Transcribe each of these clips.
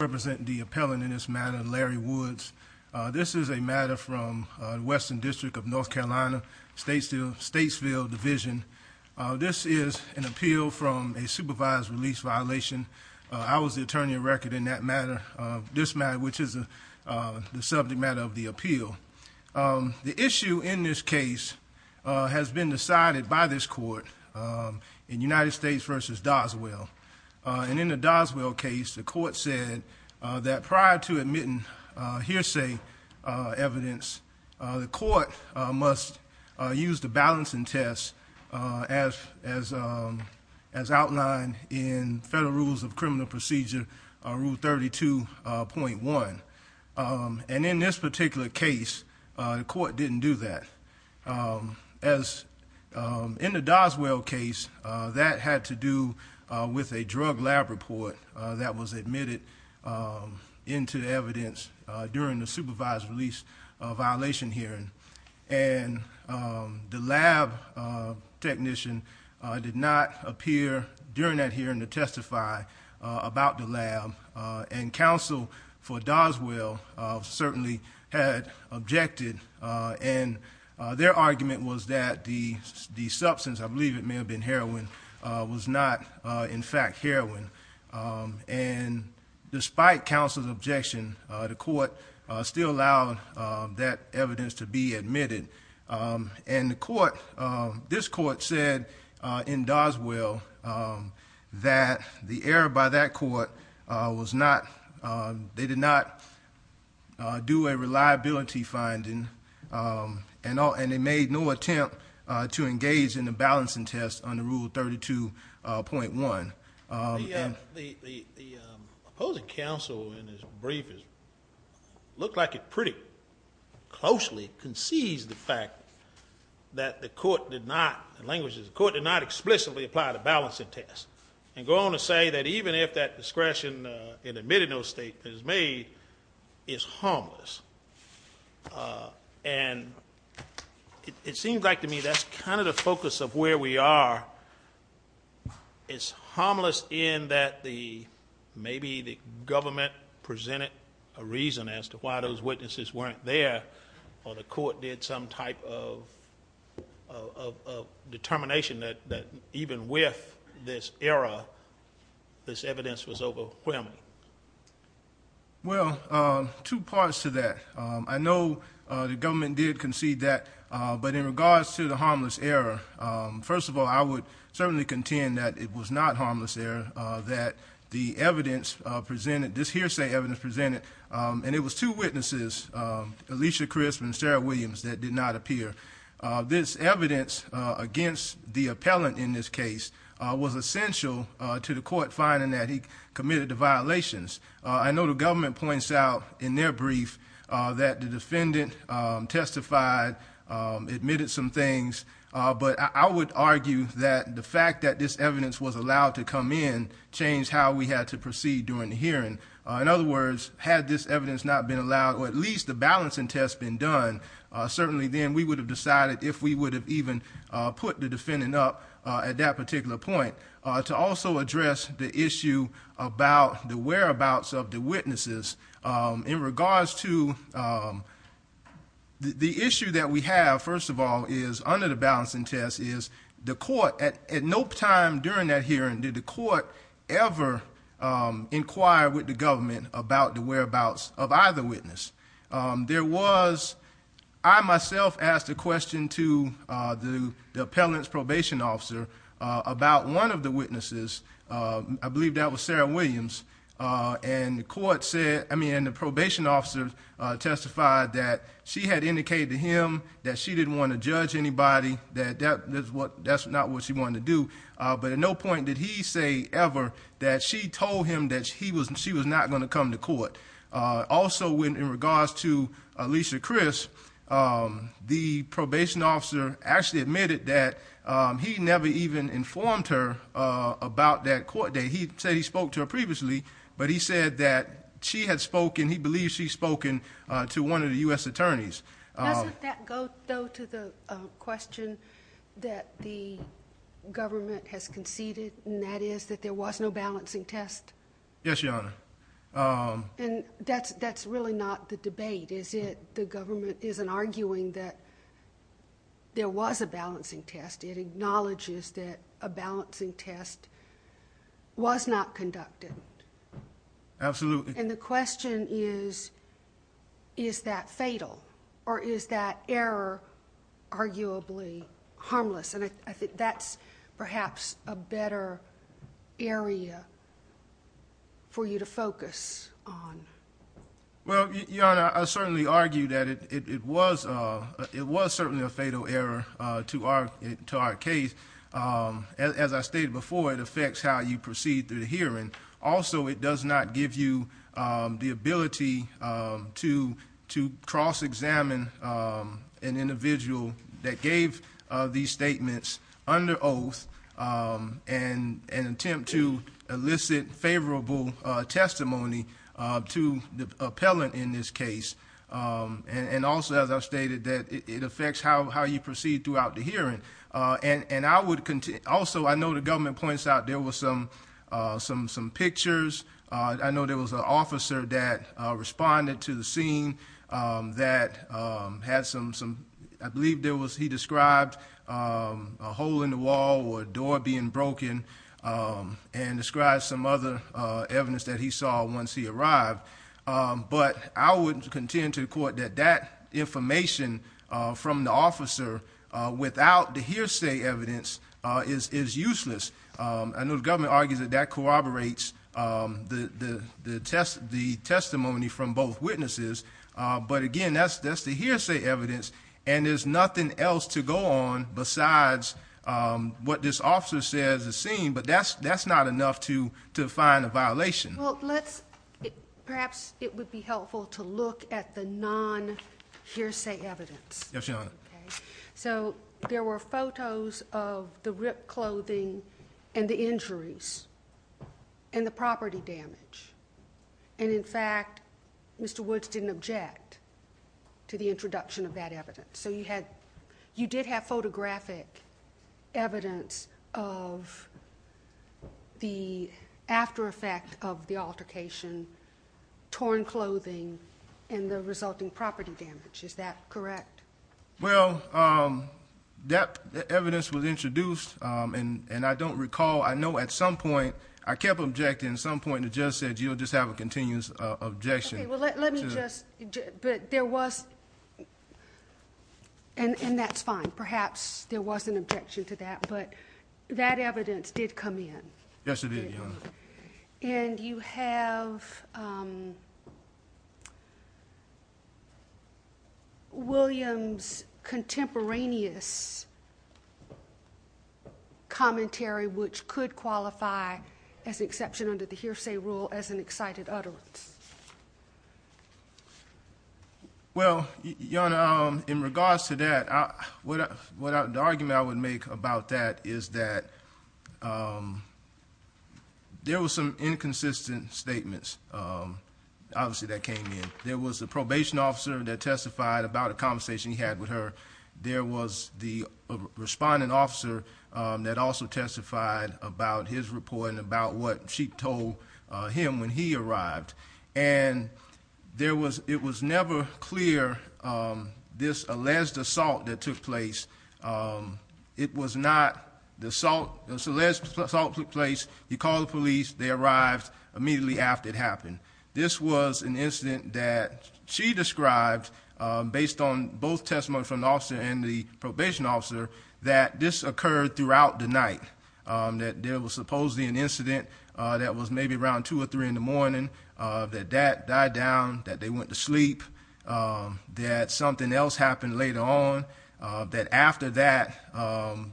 Representing the appellant in this matter, Larry Woods. This is a matter from Western District of North Carolina, Statesville Division. This is an appeal from a supervised release violation. I was the attorney at record in that matter, this matter, which is the subject matter of the appeal. The issue in this case has been decided by this court in United States versus Doswell. And in the Doswell case, the court said that prior to admitting hearsay evidence, the court must use the balancing test as outlined in Federal Rules of Criminal Procedure, Rule 32.1. And in this particular case, the court didn't do that. As in the Doswell case, that had to do with a drug lab report that was admitted into evidence during the supervised release violation hearing. And the lab technician did not appear during that hearing to testify about the lab. And counsel for Doswell certainly had objected and their argument was that the substance, I believe it may have been heroin, was not in fact heroin. And despite counsel's objection, the court still allowed that evidence to be admitted. And the court, this court said in Doswell that the error by that court was not, they did not do a reliability finding. And they made no attempt to engage in the balancing test under Rule 32.1. And- The opposing counsel in his brief looked like it pretty closely concedes the fact that the court did not, the language is the court did not explicitly apply the balancing test. And go on to say that even if that discretion in admitting those statements is made, it's harmless. And it seems like to me that's kind of the focus of where we are. It's harmless in that the, maybe the government presented a reason as to why those witnesses weren't there, or the court did some type of determination that even with this error, this evidence was overwhelming. Well, two parts to that. I know the government did concede that, but in regards to the harmless error, first of all, I would certainly contend that it was not harmless error, that the evidence presented, this hearsay evidence presented, and it was two witnesses, Alicia Crisp and Sarah Williams, that did not appear. This evidence against the appellant in this case was essential to the court finding that he committed the violations. I know the government points out in their brief that the defendant testified, admitted some things, but I would argue that the fact that this evidence was allowed to come in, changed how we had to proceed during the hearing. In other words, had this evidence not been allowed, or at least the balancing test been done, certainly then we would have decided if we would have even put the defendant up at that particular point. To also address the issue about the whereabouts of the witnesses, in regards to the issue that we have, first of all, is under the balancing test is the court, at no time during that hearing, did the court ever inquire with the government about the whereabouts of either witness. There was, I myself asked a question to the appellant's probation officer about one of the witnesses, I believe that was Sarah Williams. And the court said, I mean, and the probation officer testified that she had indicated to him that she didn't want to judge anybody, that that's not what she wanted to do. But at no point did he say ever that she told him that she was not going to come to court. Also, in regards to Alicia Crisp, the probation officer actually admitted that he never even informed her about that court date. He said he spoke to her previously, but he said that she had spoken, he believes she's spoken to one of the US attorneys. Doesn't that go though to the question that the government has conceded, and that is that there was no balancing test? Yes, Your Honor. And that's really not the debate, is it? The government isn't arguing that there was a balancing test. It acknowledges that a balancing test was not conducted. Absolutely. And the question is, is that fatal? Or is that error arguably harmless? And I think that's perhaps a better area for you to focus on. Well, Your Honor, I certainly argue that it was certainly a fatal error to our case. As I stated before, it affects how you proceed through the hearing. Also, it does not give you the ability to cross-examine an individual that gave these statements under oath and attempt to elicit favorable testimony to the appellant in this case. And also, as I've stated, that it affects how you proceed throughout the hearing. And I would continue, also, I know the government points out there was some pictures. I know there was an officer that responded to the scene that had some, I believe he described a hole in the wall or a door being broken. And described some other evidence that he saw once he arrived. But I would contend to the court that that information from the officer without the hearsay evidence is useless. I know the government argues that that corroborates the testimony from both witnesses. But again, that's the hearsay evidence. And there's nothing else to go on besides what this officer says is seen. But that's not enough to find a violation. Well, perhaps it would be helpful to look at the non-hearsay evidence. Yes, Your Honor. So there were photos of the ripped clothing and the injuries and the property damage. And in fact, Mr. Woods didn't object to the introduction of that evidence. So you did have photographic evidence of the aftereffect of the altercation. Torn clothing and the resulting property damage, is that correct? Well, that evidence was introduced, and I don't recall. I know at some point, I kept objecting at some point, and the judge said, you'll just have a continuous objection. Okay, well, let me just, but there was, and that's fine. Perhaps there was an objection to that, but that evidence did come in. Yes, it did, Your Honor. And you have Williams' contemporaneous commentary, which could qualify as an exception under the hearsay rule as an excited utterance. Well, Your Honor, in regards to that, the argument I would make about that is that there was some inconsistent statements, obviously, that came in. There was a probation officer that testified about a conversation he had with her. There was the respondent officer that also testified about his report and about what she told him when he arrived. And it was never clear, this alleged assault that took place. It was not the assault, the alleged assault took place. He called the police. They arrived immediately after it happened. This was an incident that she described, based on both testimony from the officer and the probation officer, that this occurred throughout the night. That there was supposedly an incident that was maybe around two or three in the morning. That dad died down, that they went to sleep, that something else happened later on. That after that,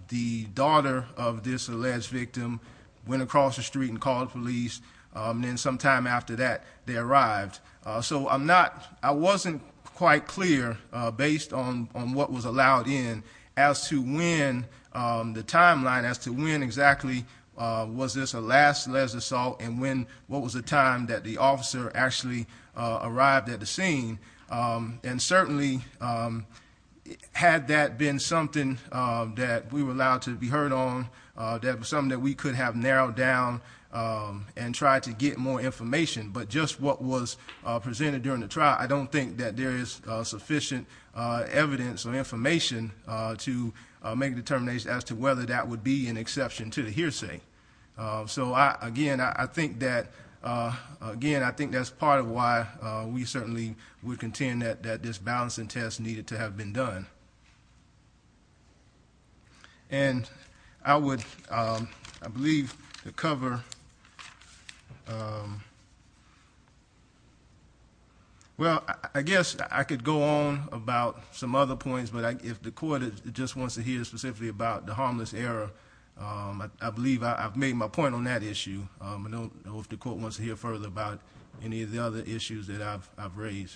the daughter of this alleged victim went across the street and called the police, and then sometime after that, they arrived. So I'm not, I wasn't quite clear, based on what was allowed in, as to when the timeline, as to when exactly was this the last alleged assault, and when, what was the time that the officer actually arrived at the scene. And certainly, had that been something that we were allowed to be heard on, that was something that we could have narrowed down and tried to get more information. But just what was presented during the trial, I don't think that there is sufficient evidence or information to make a determination as to whether that would be an exception to the hearsay. So again, I think that's part of why we certainly would contend that this balancing test needed to have been done. And I would, I believe, the cover. Well, I guess I could go on about some other points, but if the court just wants to hear specifically about the harmless error, I believe I've made my point on that issue. I don't know if the court wants to hear further about any of the other issues that I've raised.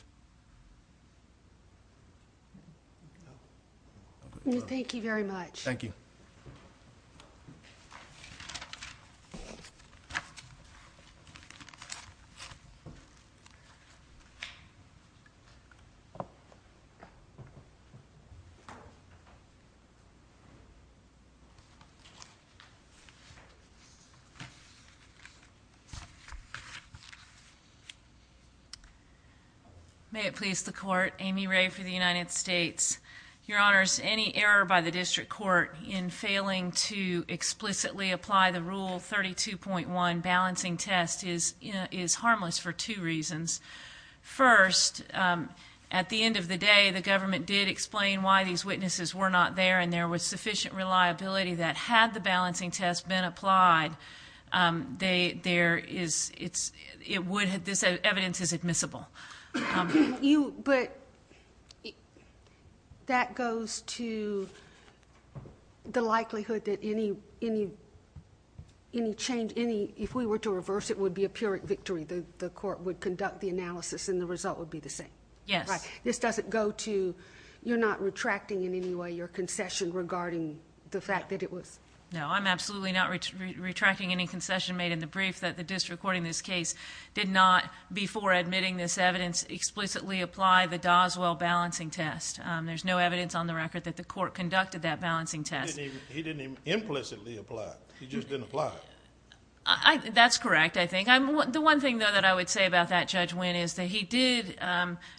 Thank you very much. Thank you. May it please the court, Amy Ray for the United States. Your honors, any error by the district court in failing to explicitly apply the rule 32.1 balancing test is harmless for two reasons. First, at the end of the day, the government did explain why these witnesses were not there and there was sufficient reliability that had the balancing test been applied, there is, it would have, this evidence is admissible. You, but that goes to the likelihood that any change, if we were to reverse it, would be a pyrrhic victory, the court would conduct the analysis and the result would be the same. Yes. This doesn't go to, you're not retracting in any way your concession regarding the fact that it was. No, I'm absolutely not retracting any concession made in the brief that the district court in this case did not, before admitting this evidence, explicitly apply the Doswell balancing test. There's no evidence on the record that the court conducted that balancing test. He didn't even implicitly apply it, he just didn't apply it. That's correct, I think. The one thing though that I would say about that, Judge Wynn, is that he did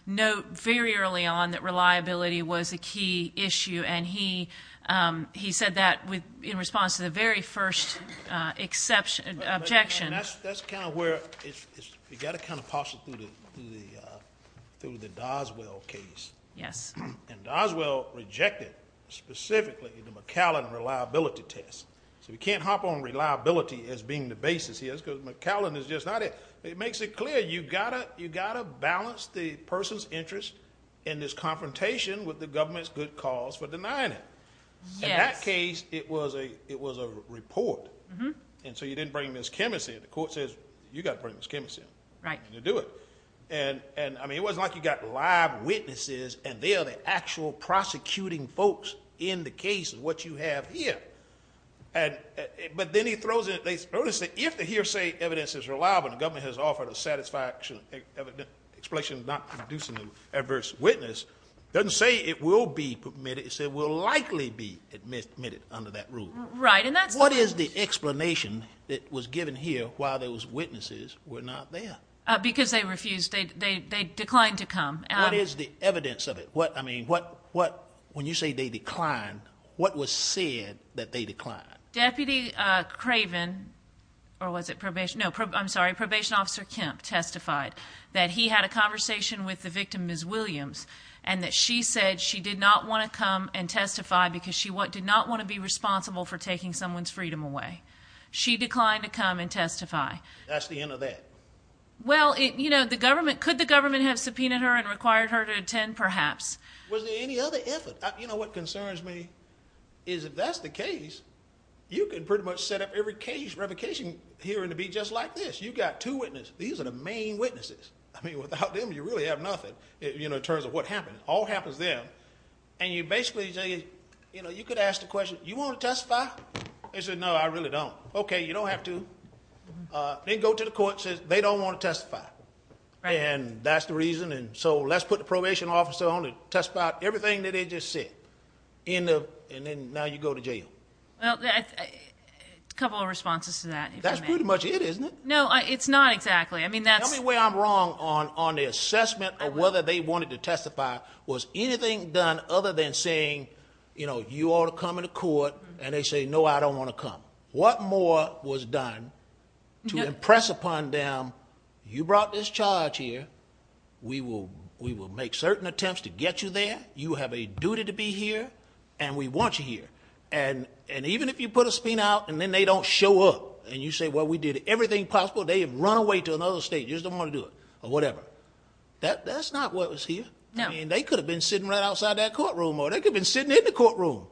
note very early on that reliability was a key issue. And he said that in response to the very first objection. That's kind of where, you gotta kind of possible through the Doswell case. Yes. And Doswell rejected, specifically, the McAllen reliability test. So we can't hop on reliability as being the basis here, because McAllen is just not it. It makes it clear, you gotta balance the person's interest in this confrontation with the government's good cause for denying it. In that case, it was a report. And so you didn't bring Ms. Kemmes in. The court says, you gotta bring Ms. Kemmes in. Right. To do it. And I mean, it wasn't like you got live witnesses and they are the actual prosecuting folks in the case of what you have here. But then he throws in, they notice that if the hearsay evidence is reliable and the government has offered a satisfaction explanation of not producing an adverse witness. Doesn't say it will be permitted, it said it will likely be admitted under that rule. Right, and that's- What is the explanation that was given here while those witnesses were not there? Because they refused, they declined to come. What is the evidence of it? What, I mean, when you say they declined, what was said that they declined? Deputy Craven, or was it probation, no, I'm sorry, probation officer Kemp testified that he had a conversation with the victim, Ms. Williams. And that she said she did not want to come and testify because she did not want to be responsible for taking someone's freedom away. She declined to come and testify. That's the end of that. Well, could the government have subpoenaed her and required her to attend, perhaps? Was there any other effort? You know what concerns me is if that's the case, you can pretty much set up every case revocation hearing to be just like this. You've got two witnesses. These are the main witnesses. I mean, without them, you really have nothing in terms of what happened. All happens then. And you basically say, you could ask the question, you want to testify? They said, no, I really don't. Okay, you don't have to. Then go to the court and say, they don't want to testify. And that's the reason, and so let's put the probation officer on to testify everything that they just said. And then now you go to jail. Well, a couple of responses to that. That's pretty much it, isn't it? No, it's not exactly. I mean, that's- Tell me where I'm wrong on the assessment of whether they wanted to testify. Was anything done other than saying, you ought to come into court, and they say, no, I don't want to come. What more was done to impress upon them, you brought this charge here. We will make certain attempts to get you there. You have a duty to be here, and we want you here. And even if you put a spin out, and then they don't show up, and you say, well, we did everything possible. They have run away to another state, just don't want to do it, or whatever. That's not what was here. I mean, they could have been sitting right outside that courtroom, or they could have been sitting in the courtroom,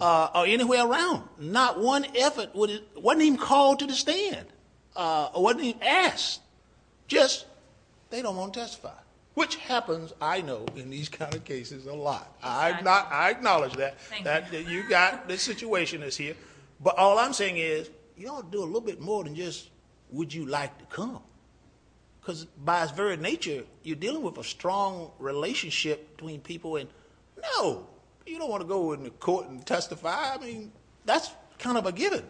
or anywhere around. Not one effort wasn't even called to the stand, or wasn't even asked. Just, they don't want to testify, which happens, I know, in these kind of cases a lot. I acknowledge that, that you got the situation that's here. But all I'm saying is, you ought to do a little bit more than just, would you like to come? Because by its very nature, you're dealing with a strong relationship between people. And no, you don't want to go into court and testify. I mean, that's kind of a given.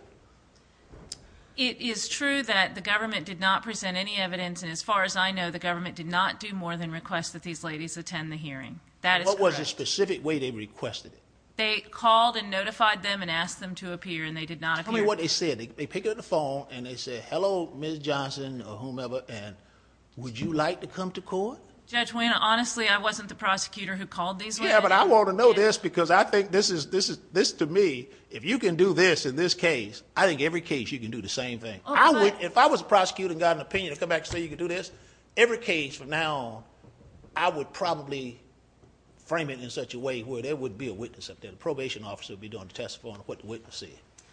It is true that the government did not present any evidence, and as far as I know, the government did not do more than request that these ladies attend the hearing. That is correct. What was the specific way they requested it? They called and notified them, and asked them to appear, and they did not appear. Tell me what they said. They picked up the phone, and they said, hello, Ms. Johnson, or whomever, and would you like to come to court? Judge Wayne, honestly, I wasn't the prosecutor who called these women. Yeah, but I want to know this, because I think this to me, if you can do this in this case, I think every case, you can do the same thing. If I was a prosecutor and got an opinion to come back and say you can do this, every case from now on, I would probably frame it in such a way where there would be a witness up there. The probation officer would be doing the testimony of what the witness said.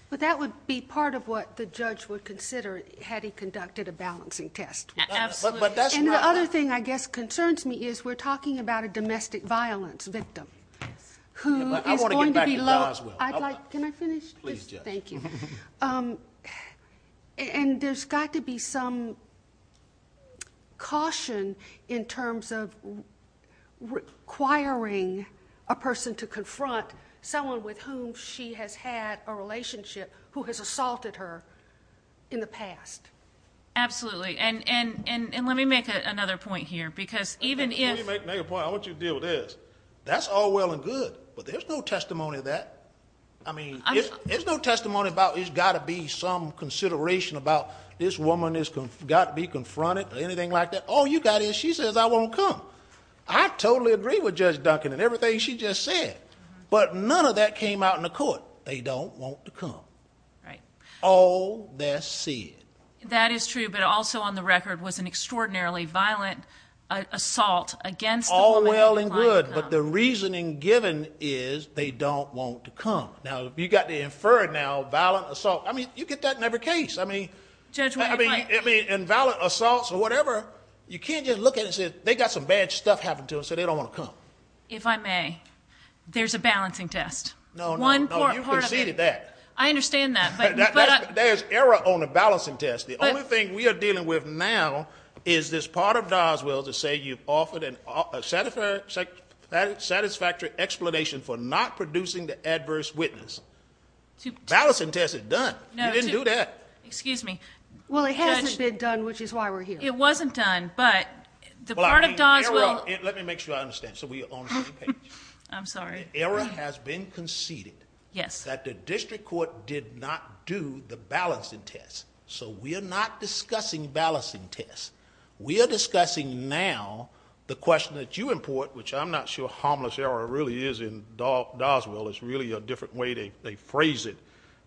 But that would be part of what the judge would consider, had he conducted a balancing test. Absolutely. And the other thing, I guess, concerns me is we're talking about a domestic violence victim. Who is going to be low. I'd like, can I finish? Please, Judge. Thank you. And there's got to be some caution in terms of requiring a person to confront someone with whom she has had a relationship, who has assaulted her in the past. Absolutely, and let me make another point here, because even if- Let me make a point, I want you to deal with this. That's all well and good, but there's no testimony of that. I mean, there's no testimony about there's got to be some consideration about this woman has got to be confronted or anything like that. All you got is she says I won't come. I totally agree with Judge Duncan and everything she just said. But none of that came out in the court. They don't want to come. Right. All that's said. That is true, but also on the record was an extraordinarily violent assault against the woman- All well and good, but the reasoning given is they don't want to come. Now, you've got to infer it now, violent assault. I mean, you get that in every case. I mean- Judge, what do you find? I mean, in violent assaults or whatever, you can't just look at it and say, they've got some bad stuff happening to them, so they don't want to come. If I may, there's a balancing test. No, no, no, you've conceded that. I understand that, but- There's error on the balancing test. The only thing we are dealing with now is this part of Doswell to say you've offered a satisfactory explanation for not producing the adverse witness. Balancing test is done. You didn't do that. Excuse me. Well, it hasn't been done, which is why we're here. It wasn't done, but the part of Doswell- Let me make sure I understand, so we are on the same page. I'm sorry. An error has been conceded that the district court did not do the balancing test, so we are not discussing balancing tests. We are discussing now the question that you import, which I'm not sure harmless error really is in Doswell. It's really a different way they phrase it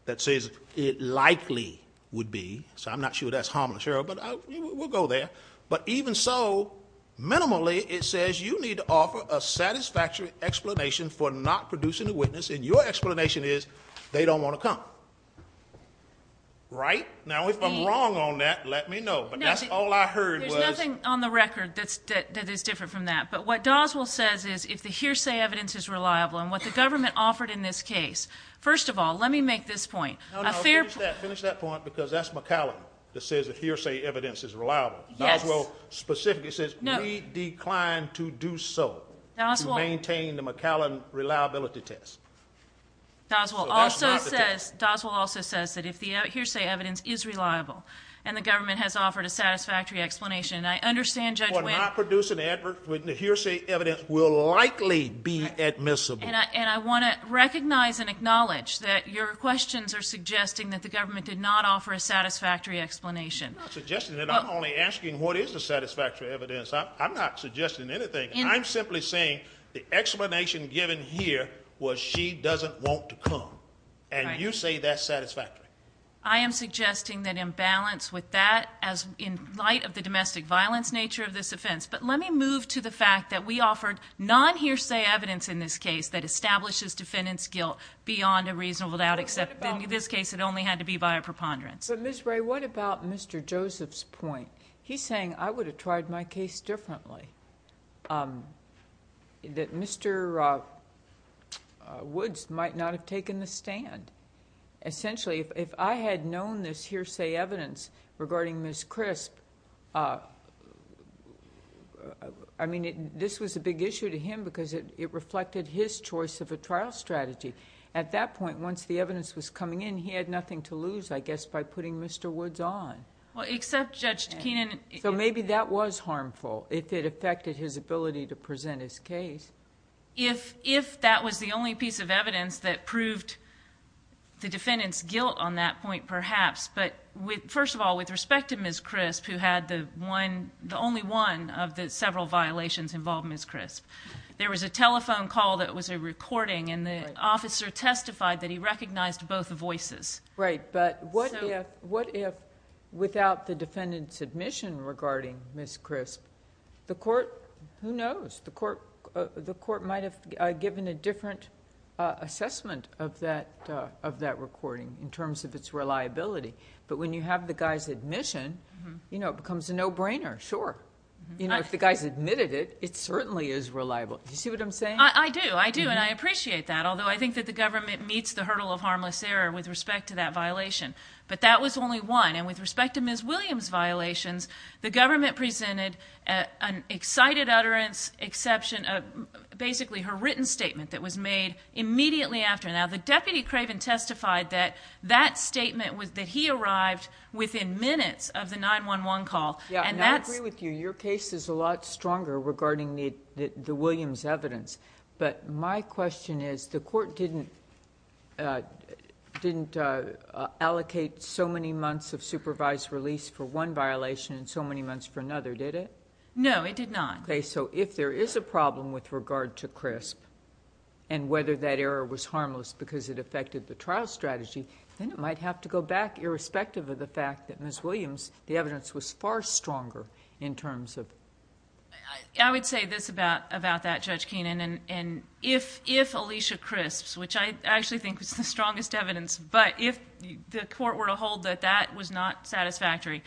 that says it likely would be, so I'm not sure that's harmless error, but we'll go there. But even so, minimally, it says you need to offer a satisfactory explanation for not producing the witness, and your explanation is they don't want to come, right? Now, if I'm wrong on that, let me know, but that's all I heard was- There's nothing on the record that is different from that, but what Doswell says is if the hearsay evidence is reliable, and what the government offered in this case, first of all, let me make this point. A fair- No, no, finish that point, because that's McCallum that says the hearsay evidence is reliable. Doswell specifically says we decline to do so to maintain the McCallum reliability test. Doswell also says that if the hearsay evidence is reliable, and the government has offered a satisfactory explanation, and I understand Judge Wynn- For not producing the hearsay evidence will likely be admissible. And I want to recognize and acknowledge that your questions are suggesting that the government did not offer a satisfactory explanation. I'm not suggesting that, I'm only asking what is the satisfactory evidence. I'm not suggesting anything. I'm simply saying the explanation given here was she doesn't want to come. And you say that's satisfactory. I am suggesting that in balance with that, in light of the domestic violence nature of this offense. But let me move to the fact that we offered non-hearsay evidence in this case that establishes defendant's guilt beyond a reasonable doubt. Except in this case, it only had to be by a preponderance. But Ms. Bray, what about Mr. Joseph's point? He's saying I would have tried my case differently. That Mr. Woods might not have taken the stand. Essentially, if I had known this hearsay evidence regarding Ms. I mean, this was a big issue to him because it reflected his choice of a trial strategy. At that point, once the evidence was coming in, he had nothing to lose, I guess, by putting Mr. Woods on. Well, except Judge Keenan- So maybe that was harmful, if it affected his ability to present his case. If that was the only piece of evidence that proved the defendant's guilt on that point, perhaps. But first of all, with respect to Ms. Crisp, who had the only one of the several violations involving Ms. Crisp. There was a telephone call that was a recording, and the officer testified that he recognized both voices. Right, but what if without the defendant's admission regarding Ms. Crisp, the court, who knows, the court might have given a different assessment of that recording in terms of its reliability. But when you have the guy's admission, it becomes a no-brainer, sure. If the guy's admitted it, it certainly is reliable. Do you see what I'm saying? I do, I do, and I appreciate that, although I think that the government meets the hurdle of harmless error with respect to that violation. But that was only one, and with respect to Ms. Williams' violations, the government presented an excited utterance, exception of basically her written statement that was made immediately after. Now, the Deputy Craven testified that that statement was that he arrived within minutes of the 911 call, and that's- Yeah, and I agree with you, your case is a lot stronger regarding the Williams evidence. But my question is, the court didn't allocate so many months of supervised release for one violation and so many months for another, did it? No, it did not. Okay, so if there is a problem with regard to CRISP, and whether that error was harmless because it affected the trial strategy, then it might have to go back, irrespective of the fact that Ms. Williams, the evidence was far stronger in terms of- I would say this about that, Judge Keenan, and if Alicia CRISPS, which I actually think was the strongest evidence, but if the court were to hold that that was not satisfactory,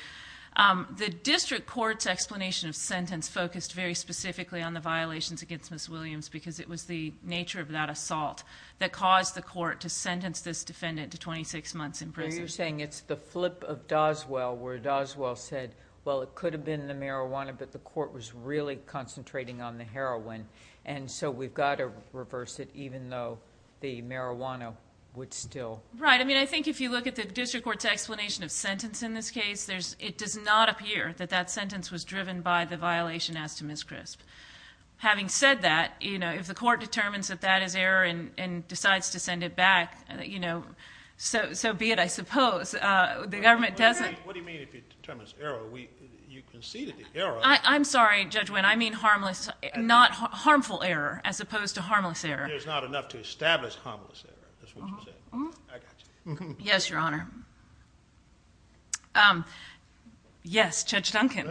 the district court's explanation of sentence focused very specifically on the violations against Ms. Williams because it was the nature of that assault that caused the court to sentence this defendant to 26 months in prison. You're saying it's the flip of Doswell, where Doswell said, well, it could have been the marijuana, but the court was really concentrating on the heroin, and so we've got to reverse it, even though the marijuana would still- Right, I mean, I think if you look at the district court's explanation of sentence in this case, it does not appear that that sentence was driven by the violation as to Ms. CRISP. Having said that, if the court determines that that is error and decides to send it back, so be it, I suppose. The government doesn't- What do you mean if it determines error? You conceded the error. I'm sorry, Judge Wynn, I mean harmful error, as opposed to harmless error. There's not enough to establish harmless error, that's what you're saying. I got you. Yes, Your Honor. Yes, Judge Duncan.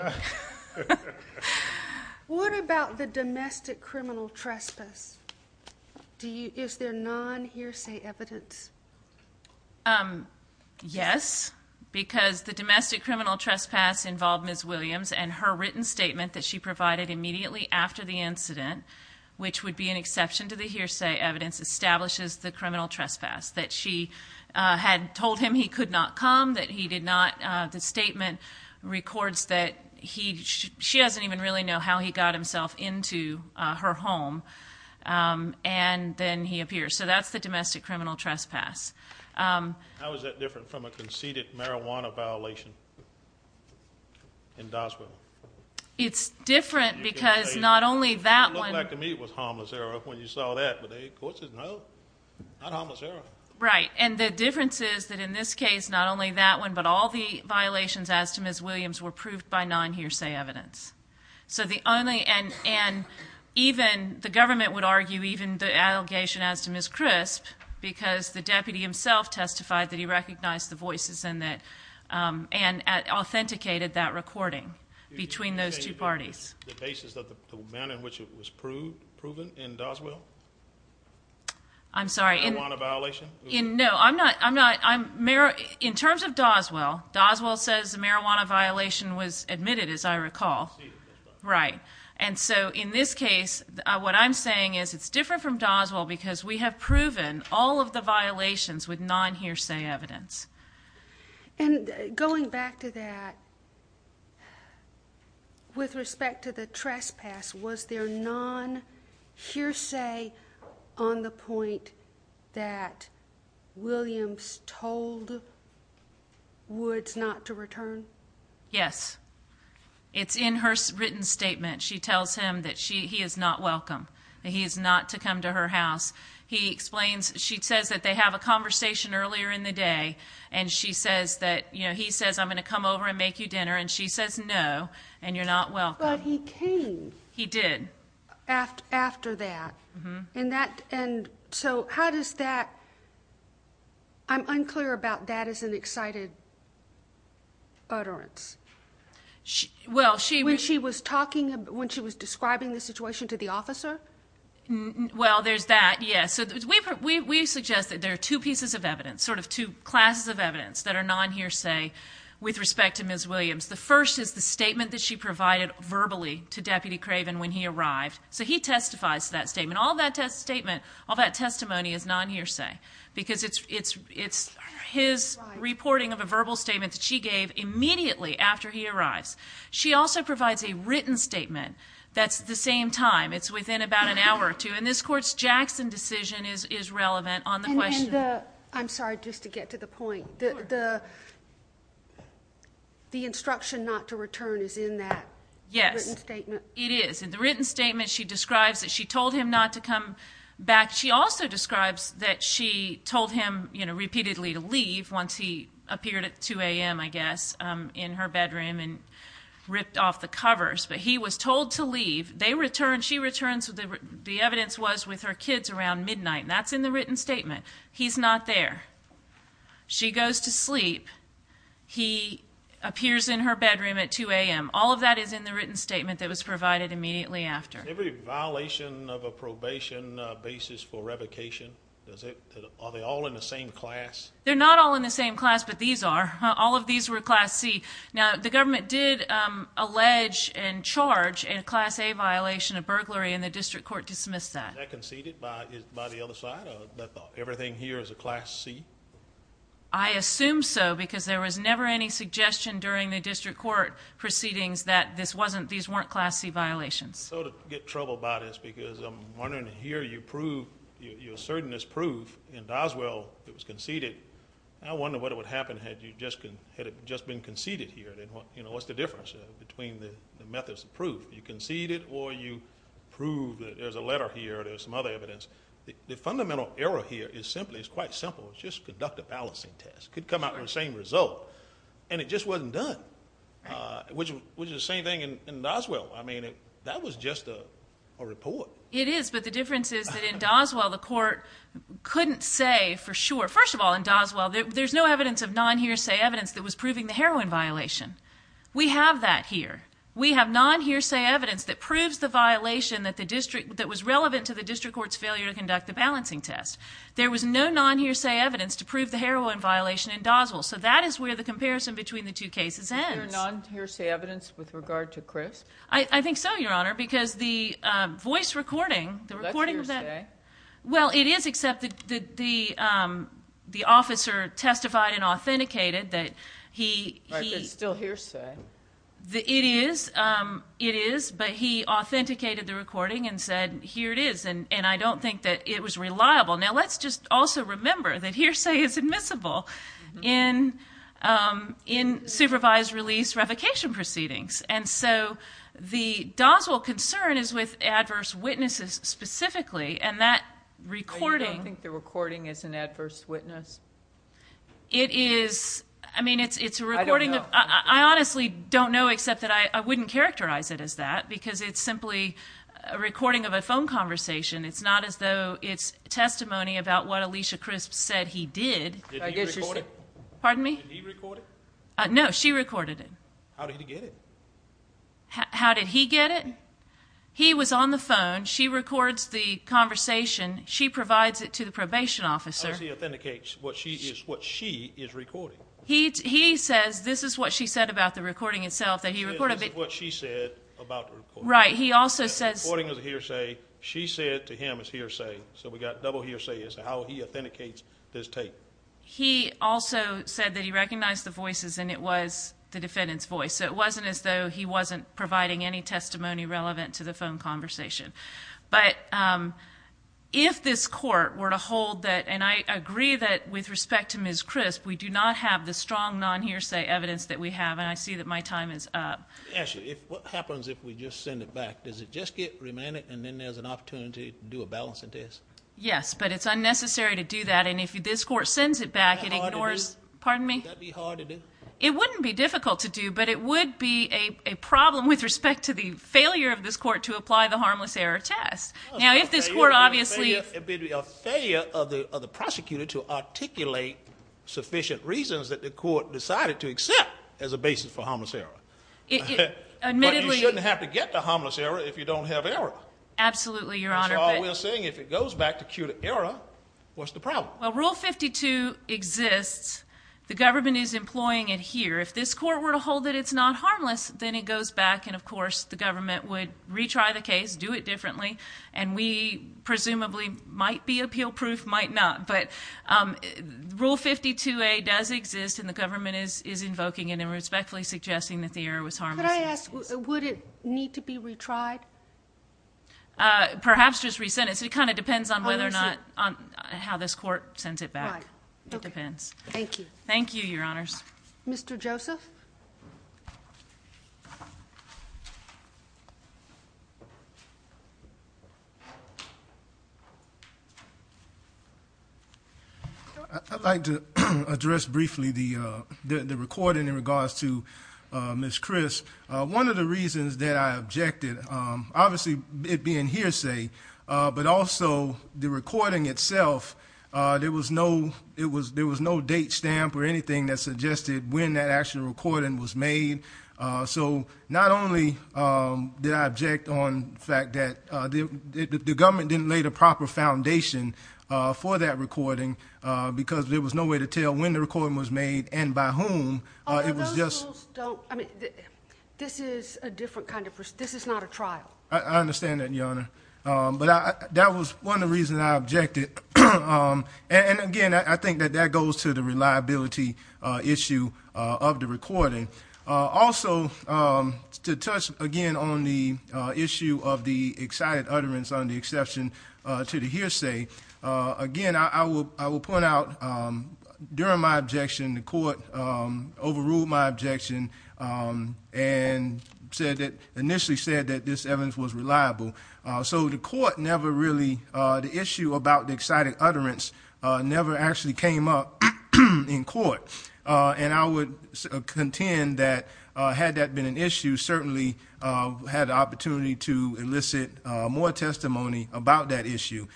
What about the domestic criminal trespass? Is there non-hearsay evidence? Yes, because the domestic criminal trespass involved Ms. Williams and her written statement that she provided immediately after the incident, which would be an exception to the hearsay evidence, establishes the criminal trespass. That she had told him he could not come, that he did not, the statement records that she doesn't even really know how he got himself into her home. And then he appears, so that's the domestic criminal trespass. How is that different from a conceded marijuana violation in Doswell? It's different because not only that one- It looked like to me it was harmless error when you saw that, but the court says no, not harmless error. Right, and the difference is that in this case, not only that one, but all the violations as to Ms. Williams were proved by non-hearsay evidence. So the only, and even the government would argue even the allegation as to Ms. Trisp, because the deputy himself testified that he recognized the voices and that, and authenticated that recording between those two parties. The basis of the amount in which it was proven in Doswell? I'm sorry. Marijuana violation? No, I'm not, in terms of Doswell, Doswell says the marijuana violation was admitted, as I recall. Right, and so in this case, what I'm saying is it's different from Doswell because we have proven all of the violations with non-hearsay evidence. And going back to that, with respect to the trespass, was there non-hearsay on the point that Williams told Woods not to return? Yes, it's in her written statement. She tells him that he is not welcome, that he is not to come to her house. He explains, she says that they have a conversation earlier in the day. And she says that, he says I'm going to come over and make you dinner, and she says no, and you're not welcome. But he came. He did. After that. And that, and so how does that, I'm unclear about that as an excited utterance. Well, she- When she was talking, when she was describing the situation to the officer? Well, there's that, yes. So we suggest that there are two pieces of evidence, sort of two classes of evidence that are non-hearsay with respect to Ms. Williams. The first is the statement that she provided verbally to Deputy Craven when he arrived. So he testifies to that statement. All that testimony is non-hearsay. Because it's his reporting of a verbal statement that she gave immediately after he arrives. She also provides a written statement that's the same time. It's within about an hour or two. And this court's Jackson decision is relevant on the question. I'm sorry, just to get to the point. The instruction not to return is in that written statement? Yes, it is. In the written statement, she describes that she told him not to come back. She also describes that she told him, you know, repeatedly to leave once he appeared at 2 a.m., I guess, in her bedroom and ripped off the covers. But he was told to leave. They returned, she returned, so the evidence was with her kids around midnight. That's in the written statement. He's not there. She goes to sleep. He appears in her bedroom at 2 a.m. All of that is in the written statement that was provided immediately after. Every violation of a probation basis for revocation, are they all in the same class? They're not all in the same class, but these are. All of these were Class C. Now, the government did allege and charge a Class A violation of burglary, and the district court dismissed that. Was that conceded by the other side, that everything here is a Class C? I assume so, because there was never any suggestion during the district court proceedings that these weren't Class C violations. So to get trouble about this, because I'm wondering here, you prove, you're asserting this proof in Doswell, it was conceded. I wonder what would have happened had it just been conceded here, what's the difference between the methods of proof? You concede it, or you prove that there's a letter here, there's some other evidence. The fundamental error here is simply, it's quite simple, it's just conduct a balancing test. Could come out with the same result. And it just wasn't done, which is the same thing in Doswell. I mean, that was just a report. It is, but the difference is that in Doswell, the court couldn't say for sure. First of all, in Doswell, there's no evidence of non-hearsay evidence that was proving the heroin violation. We have that here. We have non-hearsay evidence that proves the violation that was relevant to the district court's failure to conduct the balancing test. There was no non-hearsay evidence to prove the heroin violation in Doswell. So that is where the comparison between the two cases ends. Is there non-hearsay evidence with regard to Chris? I think so, your honor, because the voice recording, the recording of that- That's hearsay. Well, it is, except that the officer testified and authenticated that he- Right, but it's still hearsay. It is, it is, but he authenticated the recording and said, here it is, and I don't think that it was reliable. Now let's just also remember that hearsay is admissible in supervised release revocation proceedings. And so, the Doswell concern is with adverse witnesses specifically, and that recording- I don't think the recording is an adverse witness. It is, I mean, it's a recording of, I honestly don't know except that I wouldn't characterize it as that, because it's simply a recording of a phone conversation. It's not as though it's testimony about what Alicia Crisp said he did. Did he record it? Pardon me? Did he record it? No, she recorded it. How did he get it? How did he get it? He was on the phone. She records the conversation. She provides it to the probation officer. How does he authenticate what she is recording? He says this is what she said about the recording itself, that he recorded- He says this is what she said about the recording. Right, he also says- To him, it's hearsay, so we got double hearsay as to how he authenticates this tape. He also said that he recognized the voices, and it was the defendant's voice. So it wasn't as though he wasn't providing any testimony relevant to the phone conversation. But if this court were to hold that, and I agree that with respect to Ms. Crisp, we do not have the strong non-hearsay evidence that we have, and I see that my time is up. Actually, what happens if we just send it back? Does it just get remanded, and then there's an opportunity to do a balancing test? Yes, but it's unnecessary to do that, and if this court sends it back, it ignores- Would that be hard to do? Pardon me? Would that be hard to do? It wouldn't be difficult to do, but it would be a problem with respect to the failure of this court to apply the harmless error test. Now, if this court obviously- It would be a failure of the prosecutor to articulate sufficient reasons that the court decided to accept as a basis for harmless error. Admittedly- But you shouldn't have to get the harmless error if you don't have error. Absolutely, Your Honor. That's all we're saying. If it goes back to acute error, what's the problem? Well, Rule 52 exists. The government is employing it here. If this court were to hold that it's not harmless, then it goes back, and of course, the government would retry the case, do it differently, and we presumably might be appeal-proof, might not, but Rule 52A does exist, and the government is invoking it and respectfully suggesting that the error was harmless. Could I ask, would it need to be retried? Perhaps just re-sentenced. It kind of depends on whether or not- How is it- How this court sends it back. Right. Okay. It depends. Thank you. Thank you, Your Honors. Mr. Joseph? Joseph? I'd like to address briefly the recording in regards to Ms. Chris. One of the reasons that I objected, obviously it being hearsay, but also the recording itself, there was no date stamp or anything that suggested when that actual recording was made. So not only did I object on the fact that the government didn't lay the proper foundation for that recording, because there was no way to tell when the recording was made and by whom. It was just- Those rules don't, I mean, this is a different kind of, this is not a trial. I understand that, Your Honor. But that was one of the reasons I objected. And again, I think that that goes to the reliability issue of the recording. Also, to touch again on the issue of the excited utterance on the exception to the hearsay, again, I will point out during my objection, the court overruled my objection and initially said that this evidence was reliable. So the court never really, the issue about the excited utterance never actually came up in court. And I would contend that had that been an issue, certainly had the opportunity to elicit more testimony about that issue,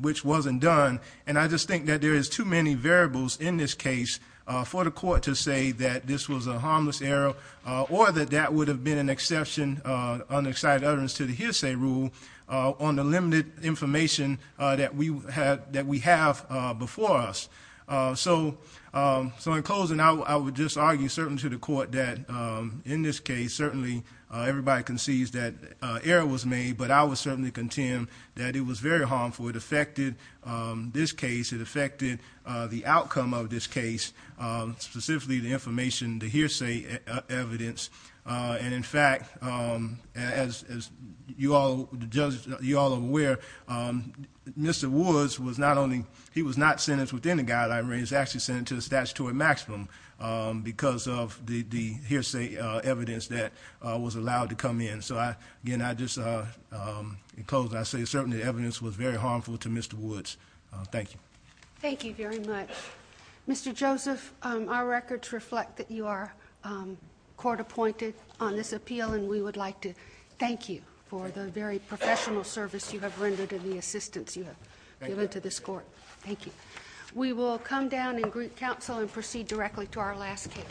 which wasn't done. And I just think that there is too many variables in this case for the court to say that this was a harmless error or that that would have been an exception on the excited utterance to the hearsay rule on the limited information that we have before us. So in closing, I would just argue, certainly to the court, that in this case, certainly everybody concedes that error was made, but I would certainly contend that it was very harmful. It affected this case. It affected the outcome of this case, specifically the information, the hearsay evidence. And in fact, as you all are aware, Mr. Woods was not only, he was not sentenced within the guideline range. He was actually sentenced to the statutory maximum because of the hearsay evidence that was allowed to come in. So, again, I just, in closing, I say certainly the evidence was very harmful to Mr. Woods. Thank you. Thank you very much. Mr. Joseph, our records reflect that you are court appointed on this appeal, and we would like to thank you for the very professional service you have rendered and the assistance you have given to this court. Thank you. We will come down and greet counsel and proceed directly to our last case.